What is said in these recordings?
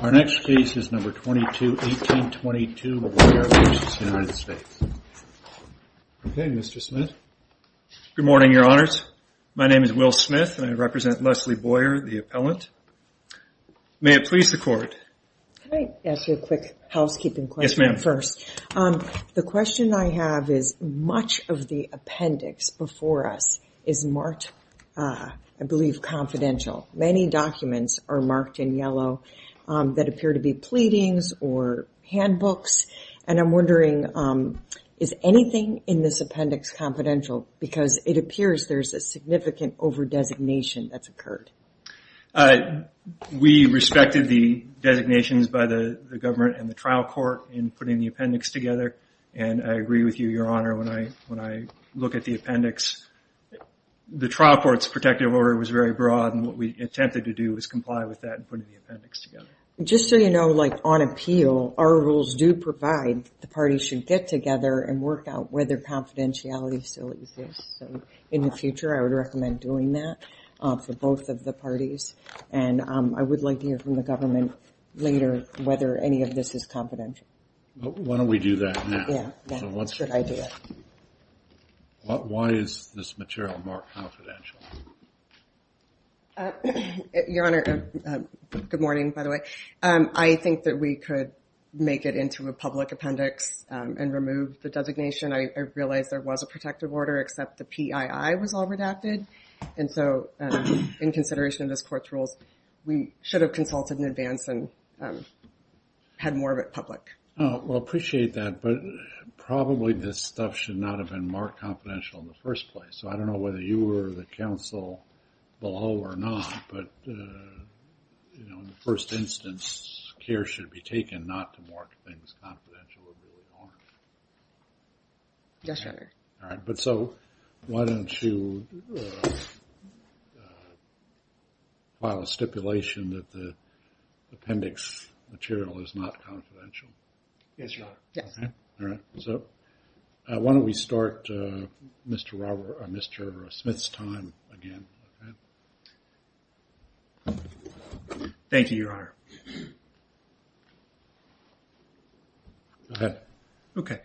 Our next case is number 221822, Boyer v. United States. Okay, Mr. Smith. Good morning, your honors. My name is Will Smith and I represent Leslie Boyer, the appellant. May it please the court. Can I ask you a quick housekeeping question first? Yes, ma'am. The question I have is much of the appendix before us is marked, I believe, confidential. Many documents are marked in yellow that appear to be pleadings or handbooks. And I'm wondering, is anything in this appendix confidential? Because it appears there's a significant over-designation that's occurred. We respected the designations by the government and the trial court in putting the appendix together. And I agree with you, your honor, when I look at the appendix. The trial court's protective order was very broad. And what we attempted to do was comply with that in putting the appendix together. Just so you know, like on appeal, our rules do provide the parties should get together and work out whether confidentiality still exists. So in the future, I would recommend doing that for both of the parties. And I would like to hear from the government later whether any of this is confidential. Why don't we do that now? Yeah, that's a good idea. Why is this material marked confidential? Your honor, good morning, by the way. I think that we could make it into a public appendix and remove the designation. I realize there was a protective order, except the PII was all redacted. And so in consideration of this court's rules, we should have consulted in advance and had more of it public. Well, I appreciate that, but probably this stuff should not have been marked confidential in the first place. So I don't know whether you were the counsel below or not, but in the first instance, care should be taken not to mark things confidential. Yes, your honor. All right, but so why don't you file a stipulation that the appendix material is not confidential? Yes, your honor. All right, so why don't we start Mr. Smith's time again? Thank you, your honor. Go ahead. Okay.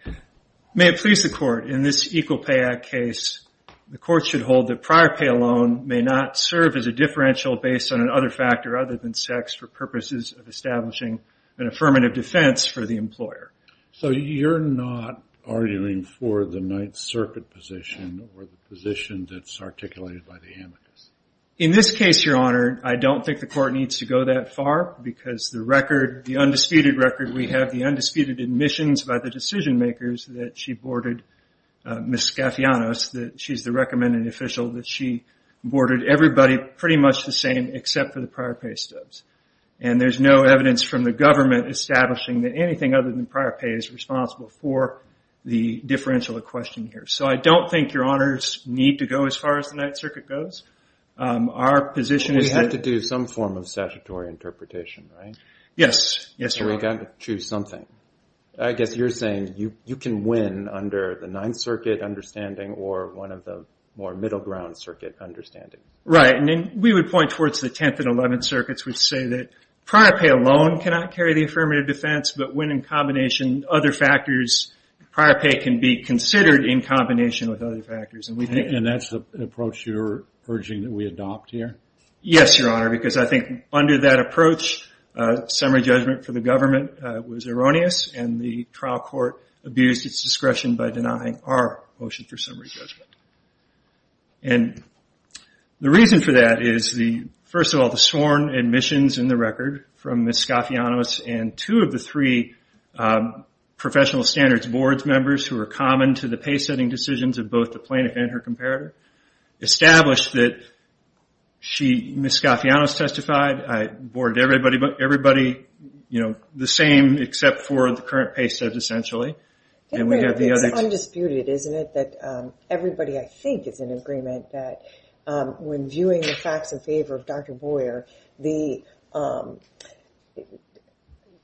May it please the court, in this Equal Pay Act case, the court should hold that prior pay alone may not serve as a differential based on another factor other than sex for purposes of establishing an affirmative defense for the employer. So you're not arguing for the Ninth Circuit position or the position that's articulated by the amicus? In this case, your honor, I don't think the court needs to go that far, because the record, the undisputed record, we have the undisputed admissions by the decision makers that she boarded Ms. Scafianos, that she's the recommended official, that she boarded everybody pretty much the same except for the prior pay stubs. And there's no evidence from the government establishing that anything other than prior pay is responsible for the differential at question here. So I don't think your honors need to go as far as the Ninth Circuit goes. We have to do some form of statutory interpretation, right? Yes. So we've got to choose something. I guess you're saying you can win under the Ninth Circuit understanding or one of the more middle ground circuit understandings. Right. And we would point towards the Tenth and Eleventh Circuits, which say that prior pay alone cannot carry the affirmative defense, but when in combination, other factors, prior pay can be considered in combination with other factors. And that's an approach you're urging that we adopt here? Yes, Your Honor, because I think under that approach, summary judgment for the government was erroneous, and the trial court abused its discretion by denying our motion for summary judgment. And the reason for that is, first of all, the sworn admissions in the record from Ms. Scafianos and two of the three professional standards board members who are common to the pay setting decisions of both the plaintiff and her comparator established that Ms. Scafianos testified. I boarded everybody the same except for the current pay set, essentially. It's undisputed, isn't it, that everybody, I think, is in agreement that when viewing the facts in favor of Dr. Boyer, it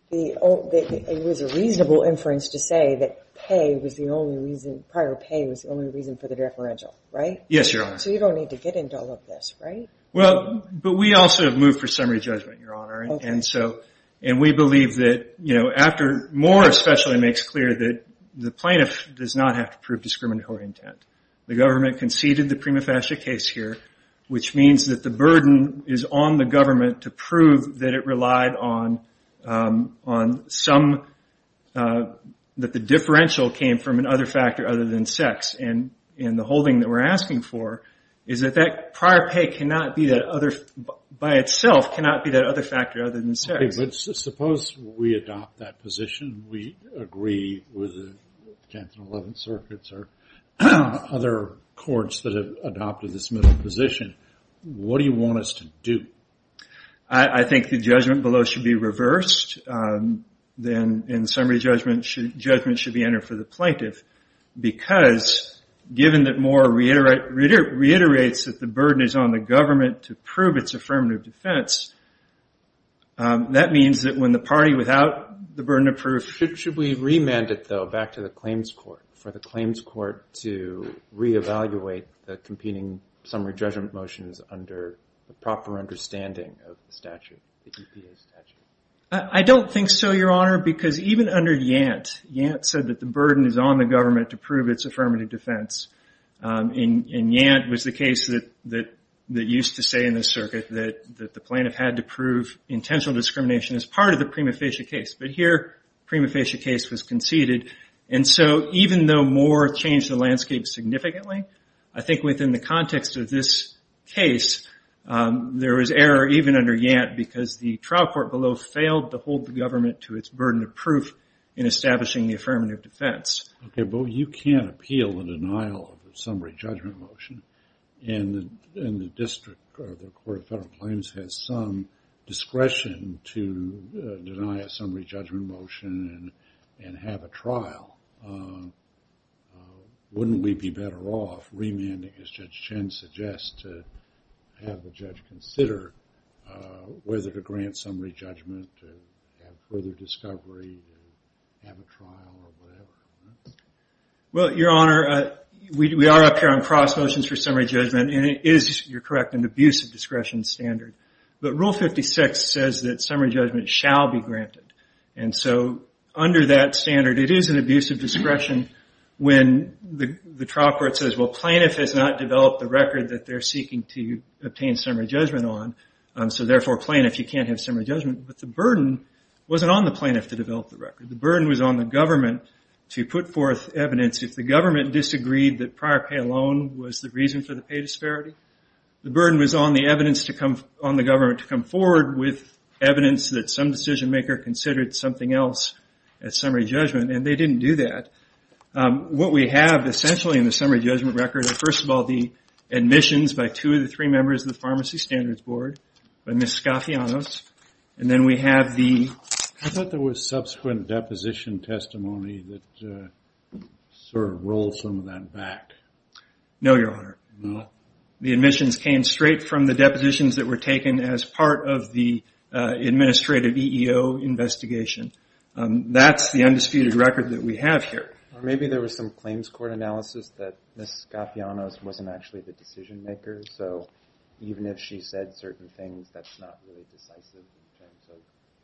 was a reasonable inference to say that prior pay was the only reason for the deferential, right? Yes, Your Honor. So you don't need to get into all of this, right? Well, but we also have moved for summary judgment, Your Honor. And we believe that after more especially makes clear that the plaintiff does not have to prove discriminatory intent. The government conceded the prima facie case here, which means that the burden is on the government to prove that it relied on some, that the differential came from another factor other than sex. And the holding that we're asking for is that that prior pay cannot be that other, by itself cannot be that other factor other than sex. But suppose we adopt that position, we agree with the 10th and 11th circuits or other courts that have adopted this middle position. What do you want us to do? I think the judgment below should be reversed. Then in summary judgment, judgment should be entered for the plaintiff because given that Moore reiterates that the burden is on the government to prove its affirmative defense, that means that when the party without the burden of proof... Should we remand it though back to the claims court for the claims court to reevaluate the competing summary judgment motions under the proper understanding of the statute, the EPA statute? I don't think so, Your Honor, because even under Yant, Yant said that the burden is on the government to prove its affirmative defense. And Yant was the case that used to say in the circuit that the plaintiff had to prove intentional discrimination as part of the prima facie case. But here, prima facie case was conceded. And so even though Moore changed the landscape significantly, I think within the context of this case, there was error even under Yant because the trial court below failed to hold the government to its burden of proof in establishing the affirmative defense. Okay, but you can't appeal the denial of a summary judgment motion. And the district or the court of federal claims has some discretion to deny a summary judgment motion and have a trial. Wouldn't we be better off remanding, as Judge Chen suggests, to have the judge consider whether to grant summary judgment and have further discovery and have a trial or whatever? Well, Your Honor, we are up here on cross motions for summary judgment. And it is, you're correct, an abuse of discretion standard. But Rule 56 says that summary judgment shall be granted. And so under that standard, it is an abuse of discretion when the trial court says, well, plaintiff has not developed the record that they're seeking to obtain summary judgment on. So therefore, plaintiff, you can't have summary judgment. But the burden wasn't on the plaintiff to develop the record. The burden was on the government to put forth evidence. If the government disagreed that prior pay alone was the reason for the pay disparity, the burden was on the government to come forward with evidence that some decision maker considered something else as summary judgment. And they didn't do that. What we have, essentially, in the summary judgment record, are, first of all, the admissions by two of the three members of the Pharmacy Standards Board, by Ms. Scafianos. And then we have the- I thought there was subsequent deposition testimony that sort of rolled some of that back. No, Your Honor. No? The admissions came straight from the depositions that were taken as part of the administrative EEO investigation. That's the undisputed record that we have here. Or maybe there was some claims court analysis that Ms. Scafianos wasn't actually the decision maker. So even if she said certain things, that's not really decisive in terms of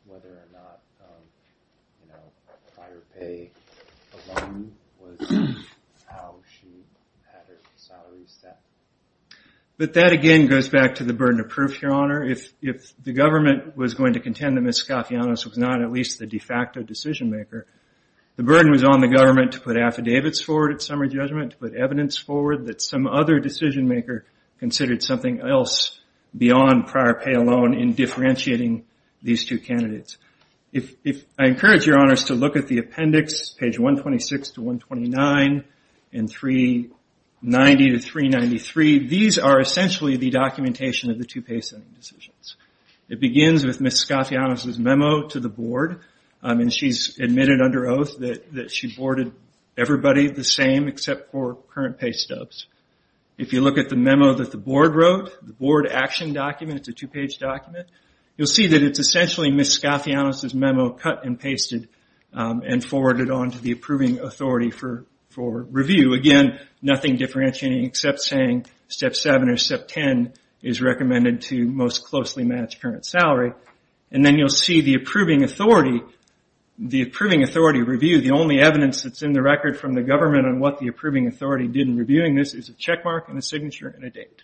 whether or not prior pay alone was how she had her salary set. But that, again, goes back to the burden of proof, Your Honor. If the government was going to contend that Ms. Scafianos was not at least the de facto decision maker, the burden was on the government to put affidavits forward at summary judgment, to put evidence forward that some other decision maker considered something else beyond prior pay alone in differentiating these two candidates. I encourage Your Honors to look at the appendix, page 126 to 129, and 390 to 393. These are essentially the documentation of the two pay setting decisions. It begins with Ms. Scafianos' memo to the board. She's admitted under oath that she boarded everybody the same except for current pay stubs. If you look at the memo that the board wrote, the board action document, it's a two page document, you'll see that it's essentially Ms. Scafianos' memo cut and pasted and forwarded on to the approving authority for review. Again, nothing differentiating except saying Step 7 or Step 10 is recommended to most closely match current salary. Then you'll see the approving authority review. The only evidence that's in the record from the government on what the approving authority did in reviewing this is a check mark and a signature and a date.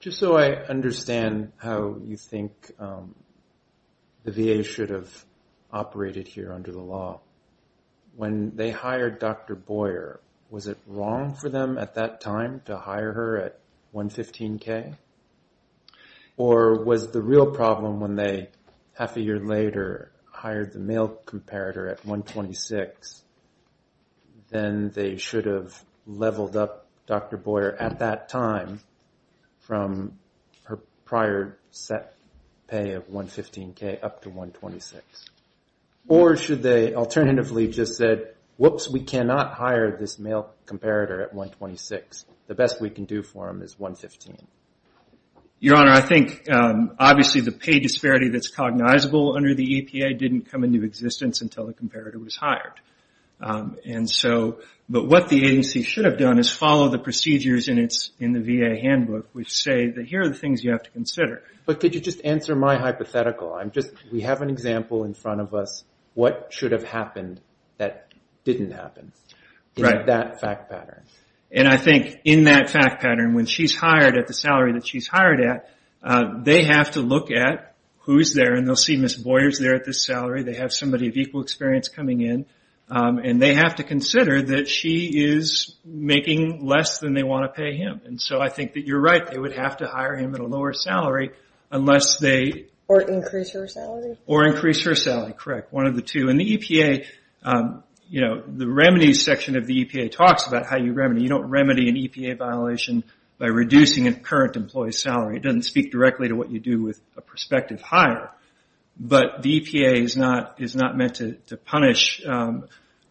Just so I understand how you think the VA should have operated here under the law, when they hired Dr. Boyer, was it wrong for them at that time to hire her at 115K? Or was the real problem when they, half a year later, hired the male comparator at 126, then they should have leveled up Dr. Boyer at that time from her prior set pay of 115K up to 126? Or should they alternatively just said, whoops, we cannot hire this male comparator at 126. The best we can do for him is 115. Your Honor, I think obviously the pay disparity that's cognizable under the EPA didn't come into existence until the comparator was hired. But what the agency should have done is follow the procedures in the VA handbook which say that here are the things you have to consider. But could you just answer my hypothetical? We have an example in front of us. What should have happened that didn't happen in that fact pattern? And I think in that fact pattern, when she's hired at the salary that she's hired at, they have to look at who's there. And they'll see Ms. Boyer's there at this salary, they have somebody of equal experience coming in. And they have to consider that she is making less than they want to pay him. And so I think that you're right, they would have to hire him at a lower salary unless they... You don't remedy an EPA violation by reducing a current employee's salary. It doesn't speak directly to what you do with a prospective hire. But the EPA is not meant to punish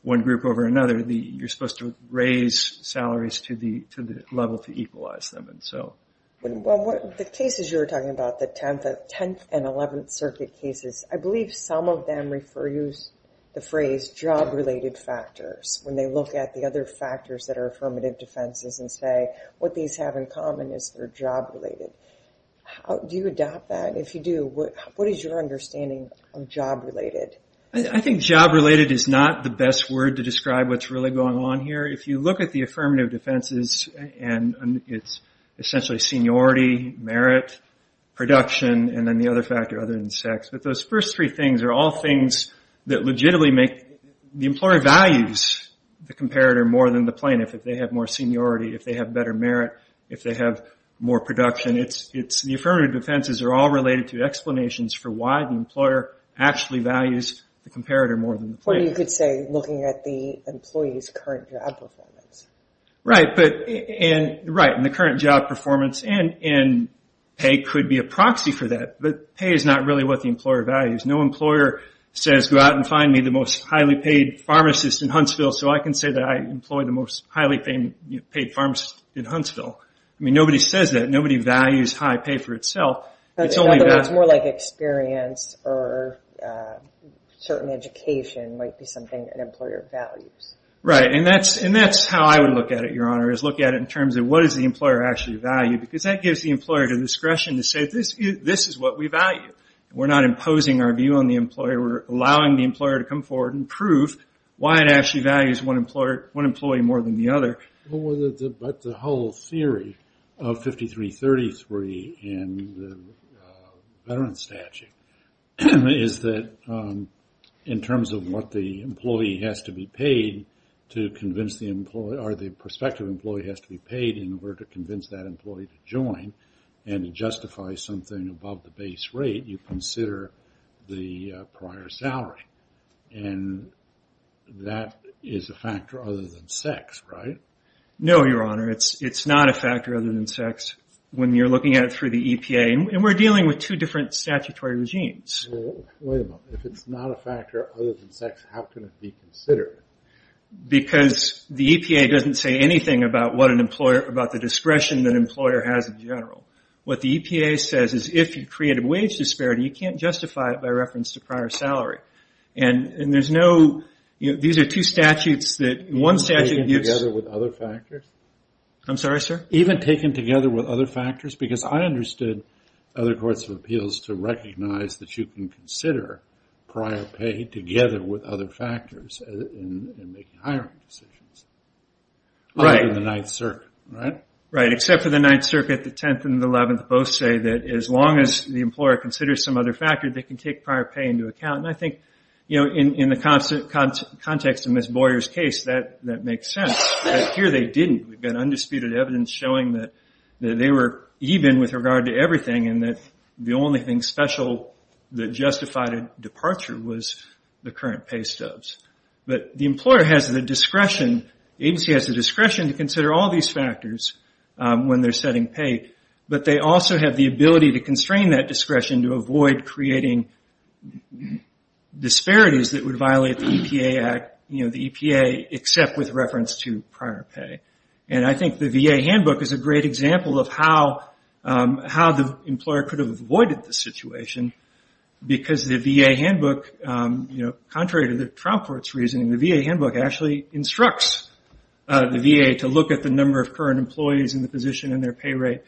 one group over another. You're supposed to raise salaries to the level to equalize them. The cases you were talking about, the 10th and 11th circuit cases, I believe some of them refer to the phrase job-related factors. When they look at the other factors that are affirmative defenses and say what these have in common is they're job-related. Do you adopt that? If you do, what is your understanding of job-related? I think job-related is not the best word to describe what's really going on here. If you look at the affirmative defenses, it's essentially seniority, merit, production, and then the other factor other than sex. But those first three things are all things that legitimately make... The employer values the comparator more than the plaintiff if they have more seniority, if they have better merit, if they have more production. The affirmative defenses are all related to explanations for why the employer actually values the comparator more than the plaintiff. Or you could say looking at the employee's current job performance. Right, and the current job performance, and pay could be a proxy for that. But pay is not really what the employer values. No employer says, go out and find me the most highly paid pharmacist in Huntsville so I can say that I employ the most highly paid pharmacist in Huntsville. I mean, nobody says that. Nobody values high pay for itself. It's more like experience or certain education might be something an employer values. Right, and that's how I would look at it, Your Honor, is look at it in terms of what does the employer actually value. Because that gives the employer the discretion to say, this is what we value. We're not imposing our view on the employer. We're allowing the employer to come forward and prove why it actually values one employee more than the other. But the whole theory of 5333 in the veteran statute is that in terms of what the employee has to be paid to convince the employee, or the prospective employee has to be paid in order to convince that employee to join and justify something above the base rate. You consider the prior salary, and that is a factor other than sex, right? No, Your Honor. It's not a factor other than sex when you're looking at it through the EPA. And we're dealing with two different statutory regimes. Wait a minute. If it's not a factor other than sex, how can it be considered? Because the EPA doesn't say anything about the discretion that an employer has in general. What the EPA says is if you create a wage disparity, you can't justify it by reference to prior salary. These are two statutes. Even taken together with other factors? Because I understood other courts of appeals to recognize that you can consider prior pay together with other factors in making hiring decisions. Right, except for the 9th Circuit, the 10th and the 11th both say that as long as the employer considers some other factor, they can take prior pay into account. And I think in the context of Ms. Boyer's case, that makes sense. But here they didn't. We've got undisputed evidence showing that they were even with regard to everything, and that the only thing special that justified a departure was the current pay stubs. But the employer has the discretion, the agency has the discretion to consider all these factors when they're setting pay, but they also have the ability to constrain that discretion to avoid creating disparities that would violate the EPA, except with reference to prior pay. And I think the VA handbook is a great example of how the employer could have avoided this situation, because the VA handbook, contrary to the trial court's reasoning, the VA handbook actually instructs the VA to look at the number of current employees in the position and their pay rate,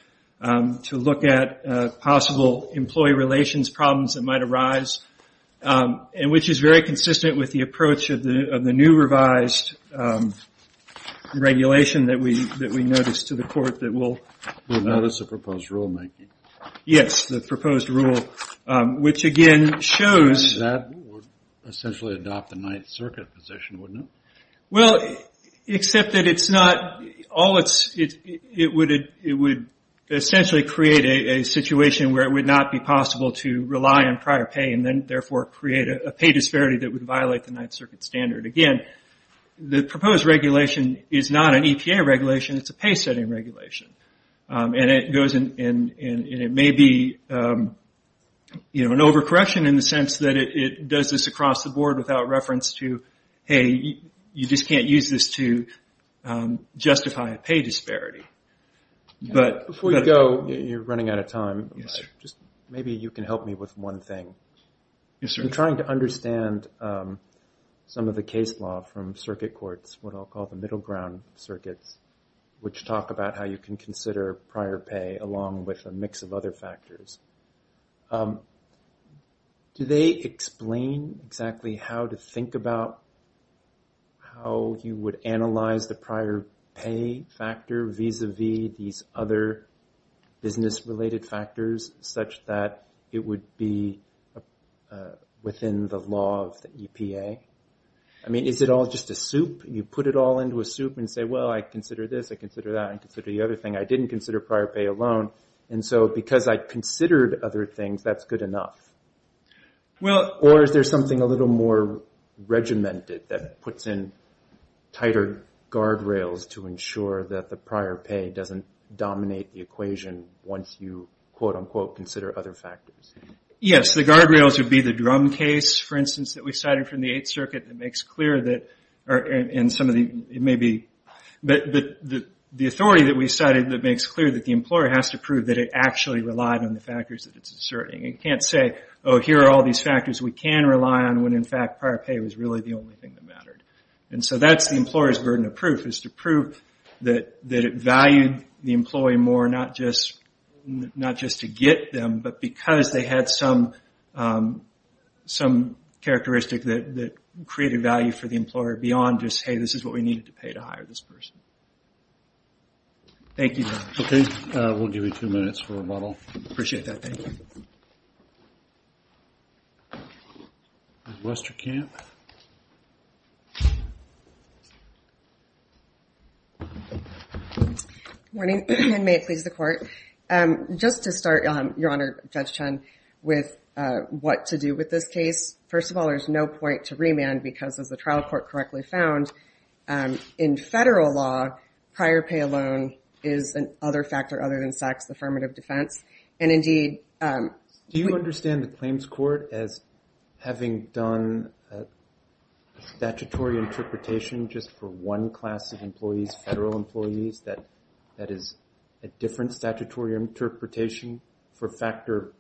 to look at possible employee relations problems that might arise, which is very consistent with the approach of the new revised regulation that we notice to the court. We'll notice the proposed rulemaking. Yes, the proposed rule, which again shows... That would essentially adopt the 9th Circuit position, wouldn't it? Well, except that it's not... It would essentially create a situation where it would not be possible to rely on prior pay, and then therefore create a pay disparity that would violate the 9th Circuit standard. Again, the proposed regulation is not an EPA regulation, it's a pay setting regulation. And it may be an overcorrection in the sense that it does this across the board without reference to, hey, you just can't use this to justify a pay disparity. Before you go, you're running out of time, maybe you can help me with one thing. I'm trying to understand some of the case law from circuit courts, what I'll call the middle ground circuits, which talk about how you can consider prior pay along with a mix of other factors. Do they explain exactly how to think about how you would analyze the prior pay factor vis-a-vis these other business-related factors such that it would be within the law of the EPA? I mean, is it all just a soup? You put it all into a soup and say, well, I consider this, I consider that, I consider the other thing. I didn't consider prior pay alone, and so because I considered other things, that's good enough. Or is there something a little more regimented that puts in tighter guardrails to ensure that the prior pay doesn't dominate the equation once you, quote-unquote, consider other factors? Yes, the guardrails would be the drum case, for instance, that we cited from the 8th Circuit that makes clear that, and some of the, it may be, the authority that we cited that makes clear that the employer has to prove that it actually relied on the factors that it's asserting. You can't say, oh, here are all these factors we can rely on when, in fact, prior pay was really the only thing that mattered. And so that's the employer's burden of proof, is to prove that it valued the employee more, not just to get them, but because they had some characteristic that created value for the employer beyond just, hey, this is what we needed to pay to hire this person. Thank you, John. Okay, we'll give you two minutes for rebuttal. Appreciate that. Thank you. Morning, and may it please the Court. Just to start, Your Honor, Judge Chun, with what to do with this case, first of all, there's no point to remand because, as the trial court correctly found, in federal law, prior pay alone is an other factor other than sex, the affirmative defense. And indeed... Do you understand the claims court as having done a statutory interpretation just for one class of employees, federal employees, that is a different statutory interpretation for factor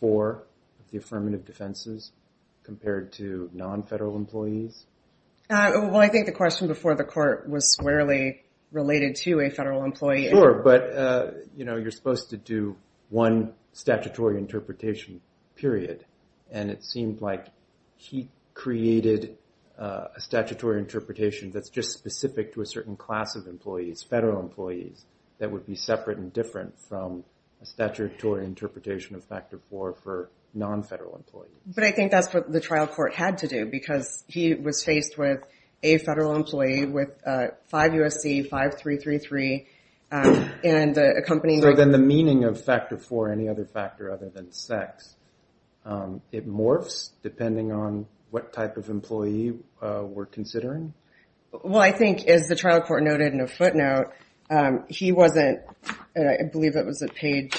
four of the affirmative defenses compared to non-federal employees? Well, I think the question before the court was squarely related to a federal employee. Sure, but you're supposed to do one statutory interpretation, period. And it seemed like he created a statutory interpretation that's just specific to a certain class of employees, federal employees, that would be separate and different from a statutory interpretation of factor four for non-federal employees. But I think that's what the trial court had to do because he was faced with a federal employee with five USC, five 333, and a company... So then the meaning of factor four, any other factor other than sex, it morphs depending on what type of employee we're considering? Well, I think, as the trial court noted in a footnote, he wasn't, I believe it was at page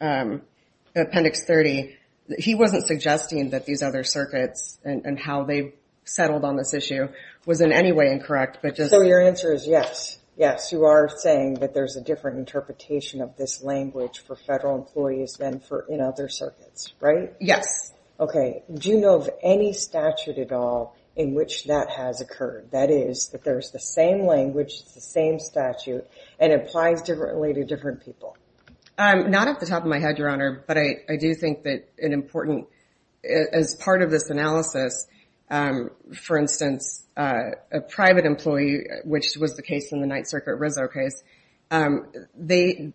appendix 30, he wasn't suggesting that these other circuits and how they settled on this issue was in any way incorrect. So your answer is yes. Yes, you are saying that there's a different interpretation of this language for federal employees than in other circuits, right? Yes. Okay. Do you know of any statute at all in which that has occurred? That is, that there's the same language, it's the same statute, and it applies differently to different people? Not off the top of my head, Your Honor, but I do think that an important, as part of this analysis, for instance, a private employee, which was the case in the Ninth Circuit Rizzo case, they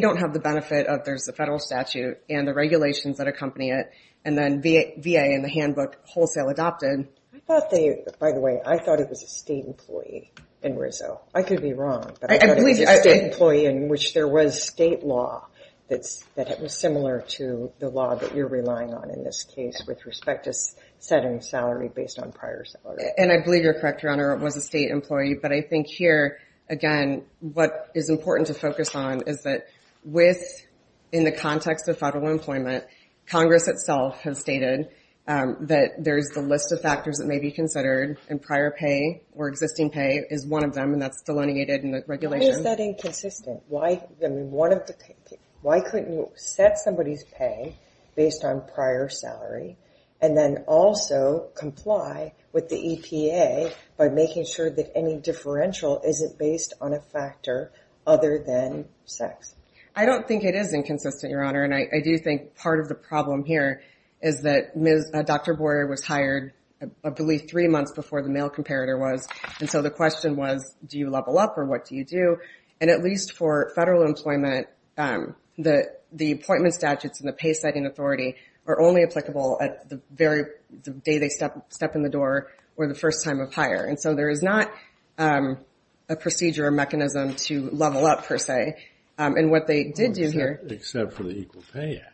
don't have the benefit of there's a federal statute and the regulations that accompany it, and then VA and the handbook wholesale adopted. I thought they, by the way, I thought it was a state employee in Rizzo. I could be wrong, but I thought it was a state employee in which there was state law that was similar to the law that you're relying on in this case with respect to setting salary based on prior salary. And I believe you're correct, Your Honor, it was a state employee, but I think here, again, what is important to focus on is that with, in the context of federal employment, Congress itself has stated that there's the list of factors that may be considered, and prior pay or existing pay is one of them, and that's delineated in the regulation. Why is that inconsistent? Why couldn't you set somebody's pay based on prior salary and then also comply with the EPA by making sure that any differential isn't based on a factor other than sex? I don't think it is inconsistent, Your Honor, and I do think part of the problem here is that Dr. Boyer was hired, I believe, three months before the male comparator was, and so the question was, do you level up or what do you do? And at least for federal employment, the appointment statutes and the pay setting authority are only applicable at the day they step in the door or the first time of hire. And so there is not a procedure or mechanism to level up, per se, and what they did do here... Except for the Equal Pay Act.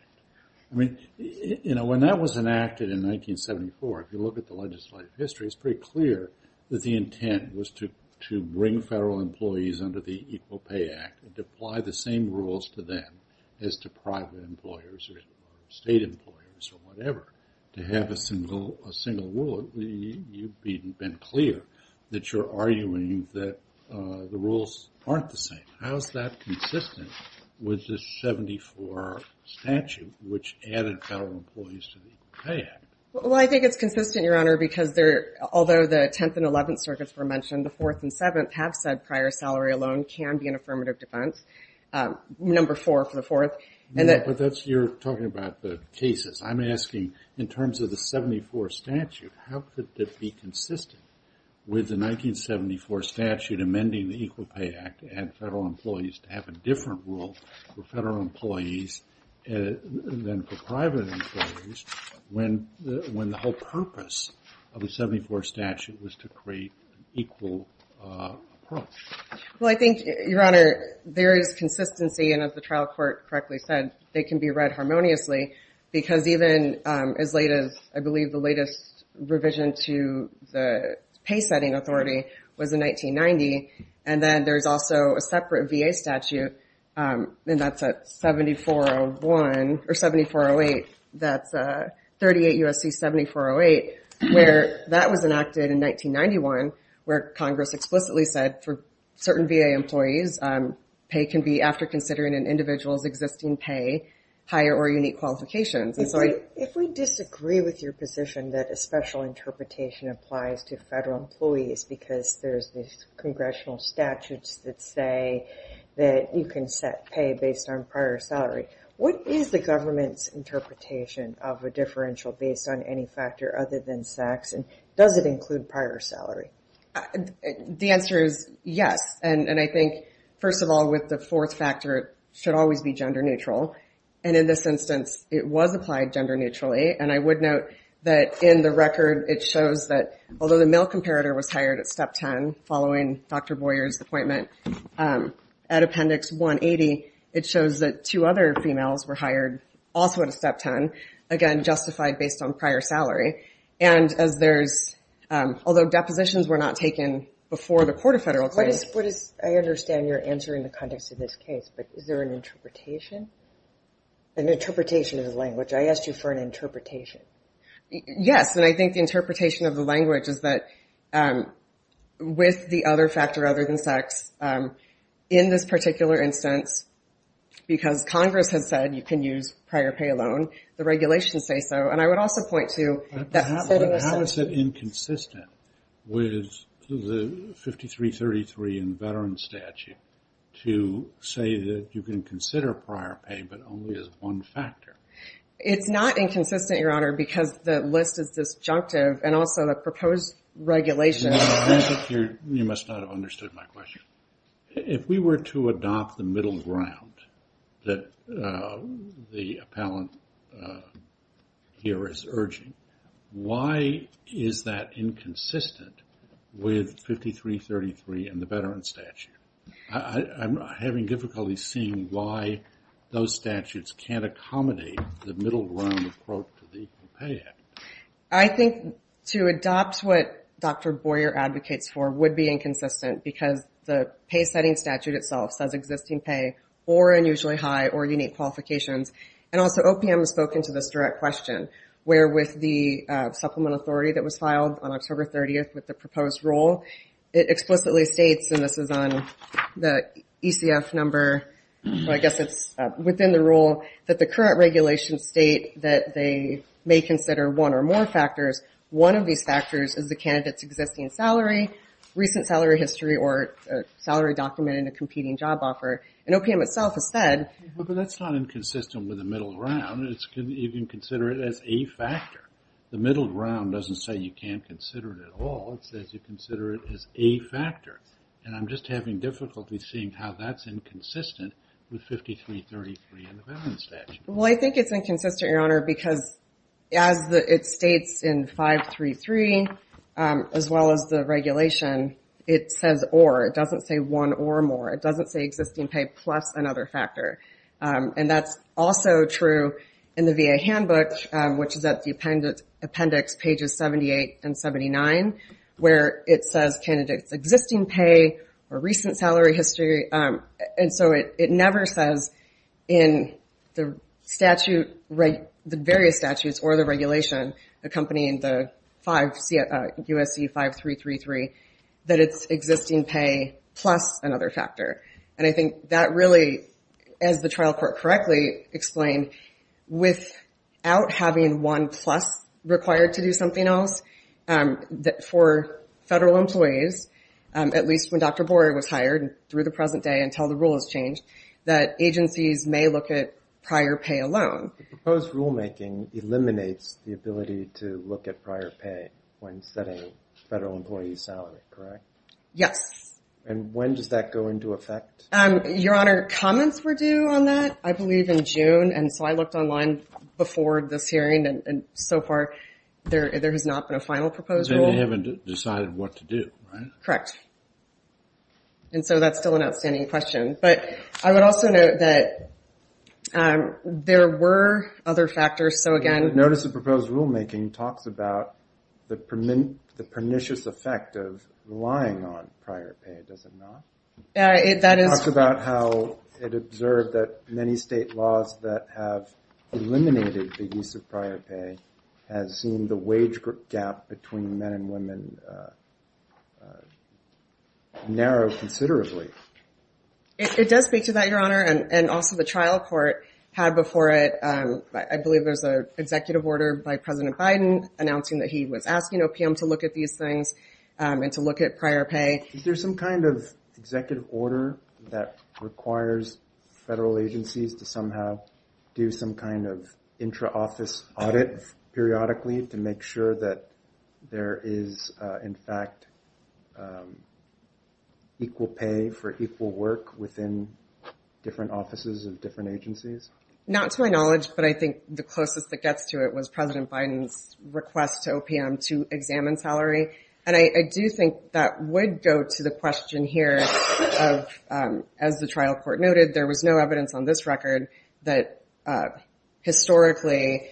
I mean, you know, when that was enacted in 1974, if you look at the legislative history, it's pretty clear that the intent was to bring federal employees under the Equal Pay Act and to apply the same rules to them as to private employers or state employers or whatever. To have a single rule, you've been clear that you're arguing that the rules aren't the same. How is that consistent with the 74 statute, which added federal employees to the Equal Pay Act? Well, I think it's consistent, Your Honor, because although the 10th and 11th circuits were mentioned, the 4th and 7th have said prior salary alone can be an affirmative defense. Number 4 for the 4th. But you're talking about the cases. I'm asking, in terms of the 74 statute, how could that be consistent with the 1974 statute amending the Equal Pay Act and federal employees to have a different rule for federal employees than for private employees when the whole purpose of the 74 statute was to create an equal approach? Well, I think, Your Honor, there is consistency, and as the trial court correctly said, they can be read harmoniously because even as late as, I believe, the latest revision to the pay setting authority was in 1990, and then there's also a separate VA statute, and that's a where that was enacted in 1991, where Congress explicitly said for certain VA employees pay can be, after considering an individual's existing pay, higher or unique qualifications. If we disagree with your position that a special interpretation applies to federal employees because there's these congressional statutes that say that you can set pay based on prior salary, what is the government's interpretation of a differential based on any factor other than sex, and does it include prior salary? The answer is yes, and I think first of all, with the 4th factor, it should always be gender neutral, and in this instance, it was applied gender neutrally, and I would note that in the record, it shows that although the male comparator was hired at Dr. Boyer's appointment at Appendix 180, it shows that two other females were hired also at a Step 10, again, justified based on prior salary, and as there's although depositions were not taken before the court of federal claims. I understand you're answering the context of this case, but is there an interpretation of the language? I asked you for an interpretation. Yes, and I think the interpretation of the language is that with the other factor other than sex, in this particular instance, because Congress has said you can use prior pay alone, the regulations say so, and I would also point to How is it inconsistent with the 5333 in the Veterans Statute to say that you can consider prior pay but only as one factor? It's not inconsistent, Your Honor, because the list is disjunctive, and also the proposed regulations You must not have understood my question. If we were to adopt the middle ground that the appellant here is urging, why is that inconsistent with 5333 in the Veterans Statute? I'm having difficulty seeing why those statutes can't accommodate the middle ground to the Equal Pay Act. I think to adopt what Dr. Boyer advocates for would be inconsistent because the pay setting statute itself says existing pay or unusually high or unique qualifications, and also OPM has spoken to this direct question, where with the Supplement Authority that was filed on October 30th with the proposed rule, it explicitly states, and this is on the ECF number, but I guess it's within the rule, that the current regulations state that they may consider one or more factors. One of these factors is the candidate's existing salary, recent salary history, or salary documented in a competing job offer, and OPM itself has said But that's not inconsistent with the middle ground. You can consider it as a factor. The middle ground doesn't say you can't consider it at all. It says you consider it as a factor, and I'm just having difficulty seeing how that's inconsistent with 5333 in the Veterans Statute. Well, I think it's inconsistent, Your Honor because as it states in 533, as well as the regulation, it says or. It doesn't say one or more. It doesn't say existing pay plus another factor, and that's also true in the VA Handbook, which is at the appendix pages 78 and 79, where it says candidate's existing pay or recent salary history, and so it never says in the various statutes or the regulation accompanying the USC 5333 that it's existing pay plus another factor, and I think that really, as the trial court correctly explained, without having one plus required to do something else, that for federal employees, at least when Dr. Boyer was hired through the present day until the rule has changed, that agencies may look at prior pay alone. The proposed rulemaking eliminates the ability to look at prior pay when setting federal employees' salary, correct? Yes. And when does that go into effect? Your Honor, comments were due on that. I believe in June, and so I looked online before this hearing, and so far there has not been a final proposed rule. So you haven't decided what to do, right? Correct. And so that's still an outstanding question, but I would also note that there were other factors, so again notice of proposed rulemaking talks about the pernicious effect of relying on laws that have eliminated the use of prior pay has seen the wage gap between men and women narrow considerably. It does speak to that, Your Honor, and also the trial court had before it, I believe there's an executive order by President Biden announcing that he was asking OPM to look at these things and to look at prior pay. Is there some kind of executive order that requires federal agencies to somehow do some kind of intra-office audit periodically to make sure that there is in fact equal pay for equal work within different offices of different agencies? Not to my knowledge, but I think the closest that gets to it was President Biden's request to OPM to examine salary, and I do think that would go to the question here of, as the trial court noted, there was no evidence on this record that historically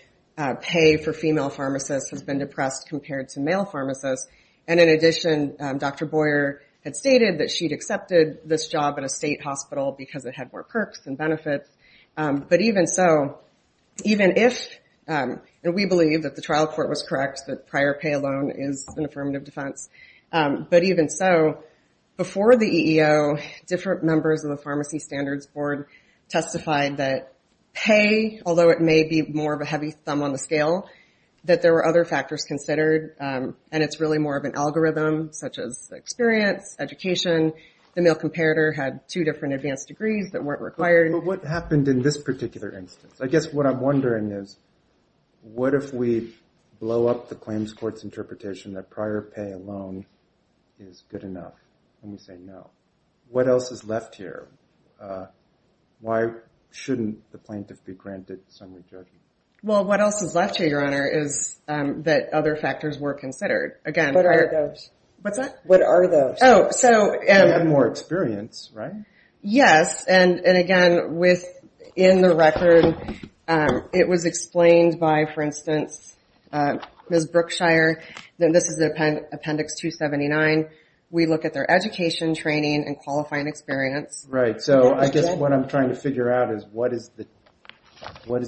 pay for female pharmacists has been depressed compared to male pharmacists, and in addition, Dr. Boyer had stated that she'd accepted this job at a state hospital because it had more perks and benefits, but even so, even if, and we believe that the trial court was correct that prior pay alone is an affirmative defense, but even so, before the EEO, different members of the Pharmacy Standards Board testified that pay, although it may be more of a heavy thumb on the scale, that there were other factors considered, and it's really more of an algorithm, such as experience, education, the male comparator had two different advanced degrees that weren't required. But what happened in this particular instance? I guess what I'm wondering is, what if we blow up the claims court's interpretation that prior pay alone is good enough, and we say no. What else is left here? Why shouldn't the plaintiff be granted summary judgement? Well, what else is left here, Your Honor, is that other factors were considered. What are those? What's that? What are those? Oh, so... More experience, right? Yes, and again, within the record, it was explained by, for instance, Ms. Brookshire, this is Appendix 279, we look at their education, training, and qualifying experience. Right, so I guess what I'm trying to figure out is, what is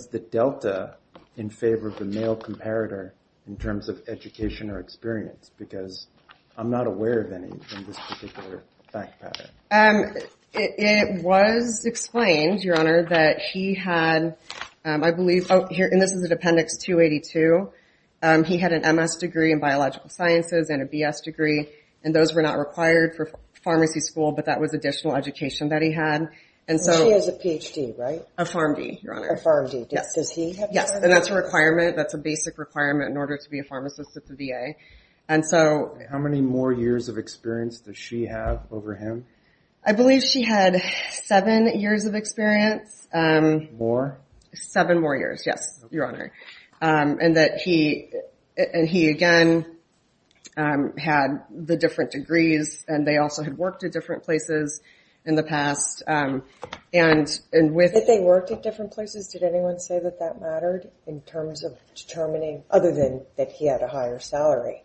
the delta in favor of the male comparator in terms of education or experience? Because I'm not aware of any in this particular fact pattern. It was explained, Your Honor, that he had, I believe, and this is in Appendix 282, he had an MS degree in biological sciences and a BS degree, and those were not required for pharmacy school, but that was additional education that he had. And she has a PhD, right? A PharmD, Your Honor. A PharmD, does he have that? Yes, and that's a requirement, that's a basic requirement in order to be a pharmacist at the VA. How many more years of experience does she have over him? I believe she had seven years of experience. More? Seven more years, yes, Your Honor. And that he, again, had the different degrees and they also had worked at different places in the past. Did they work at different places? Did anyone say that that mattered in terms of determining, other than that he had a higher salary?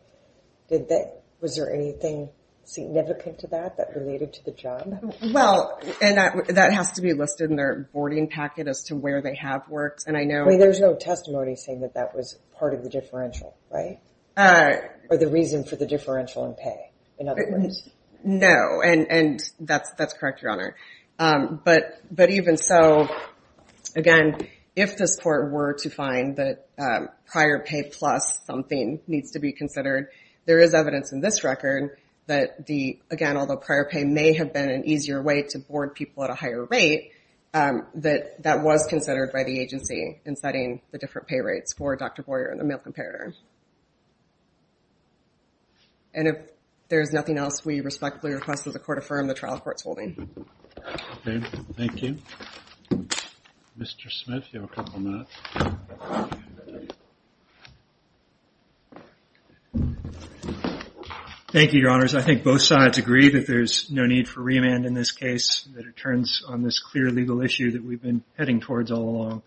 Was there anything significant to that that related to the job? Well, and that has to be listed in their boarding packet as to where they have worked. I mean, there's no testimony saying that that was part of the differential, right? Or the reason for the differential in pay, in other words. No, and that's correct, Your Honor. But even so, again, if this court were to find that prior pay plus something needs to be considered, there is evidence in this record that the, again, although prior pay may have been an easier way to board people at a higher rate, that that was considered by the agency in setting the different pay rates for Dr. Boyer and the male comparator. And if there's nothing else, we respectfully request that the court affirm the trial court's holding. Okay, thank you. Mr. Smith, you have a couple minutes. Thank you, Your Honors. I think both sides agree that there's no need for remand in this case, that it turns on this clear legal issue that we've been heading towards all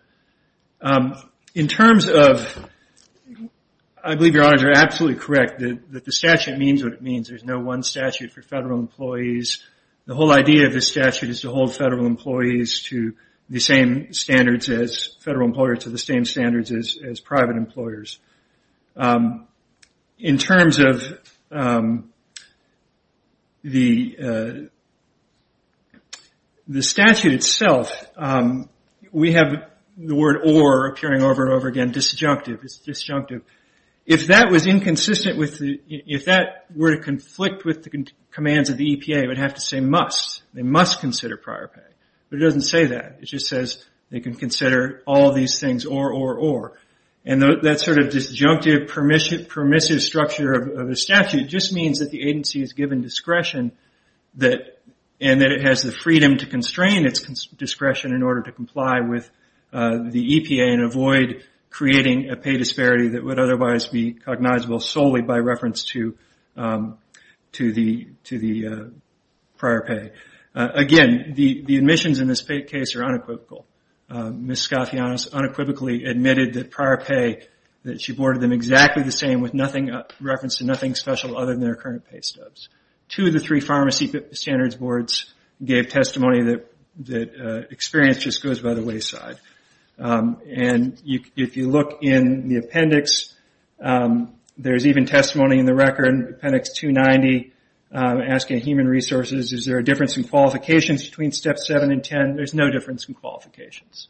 along. In terms of, I believe Your Honors are absolutely correct that the statute means what it means. There's no one statute for federal employees. The whole idea of this statute is to hold federal employees to the same standards as federal employers to the same standards as private employers. In terms of the statute itself, we have the word or appearing over and over again, disjunctive. If that were to conflict with the commands of the EPA, it would have to say must. They must consider prior pay. But it doesn't say that. It just says they can consider all these things or, or, or. And that sort of disjunctive permissive structure of the statute just means that the agency is given discretion and that it has the freedom to constrain its discretion in order to comply with the EPA and avoid creating a disparity that would otherwise be cognizable solely by reference to the prior pay. Again, the admissions in this case are unequivocal. Ms. Scafianas unequivocally admitted that prior pay, that she boarded them exactly the same with nothing, reference to nothing special other than their current pay stubs. Two of the three pharmacy standards boards gave testimony that experience just goes by the wayside. And if you look in the appendix, there's even testimony in the record. Appendix 290, asking human resources, is there a difference in qualifications between Step 7 and 10? There's no difference in qualifications.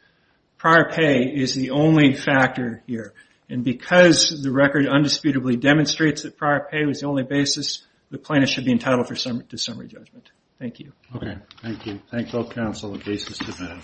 Prior pay is the only factor here. And because the record undisputably demonstrates that prior pay was the only factor, there's no difference in qualifications.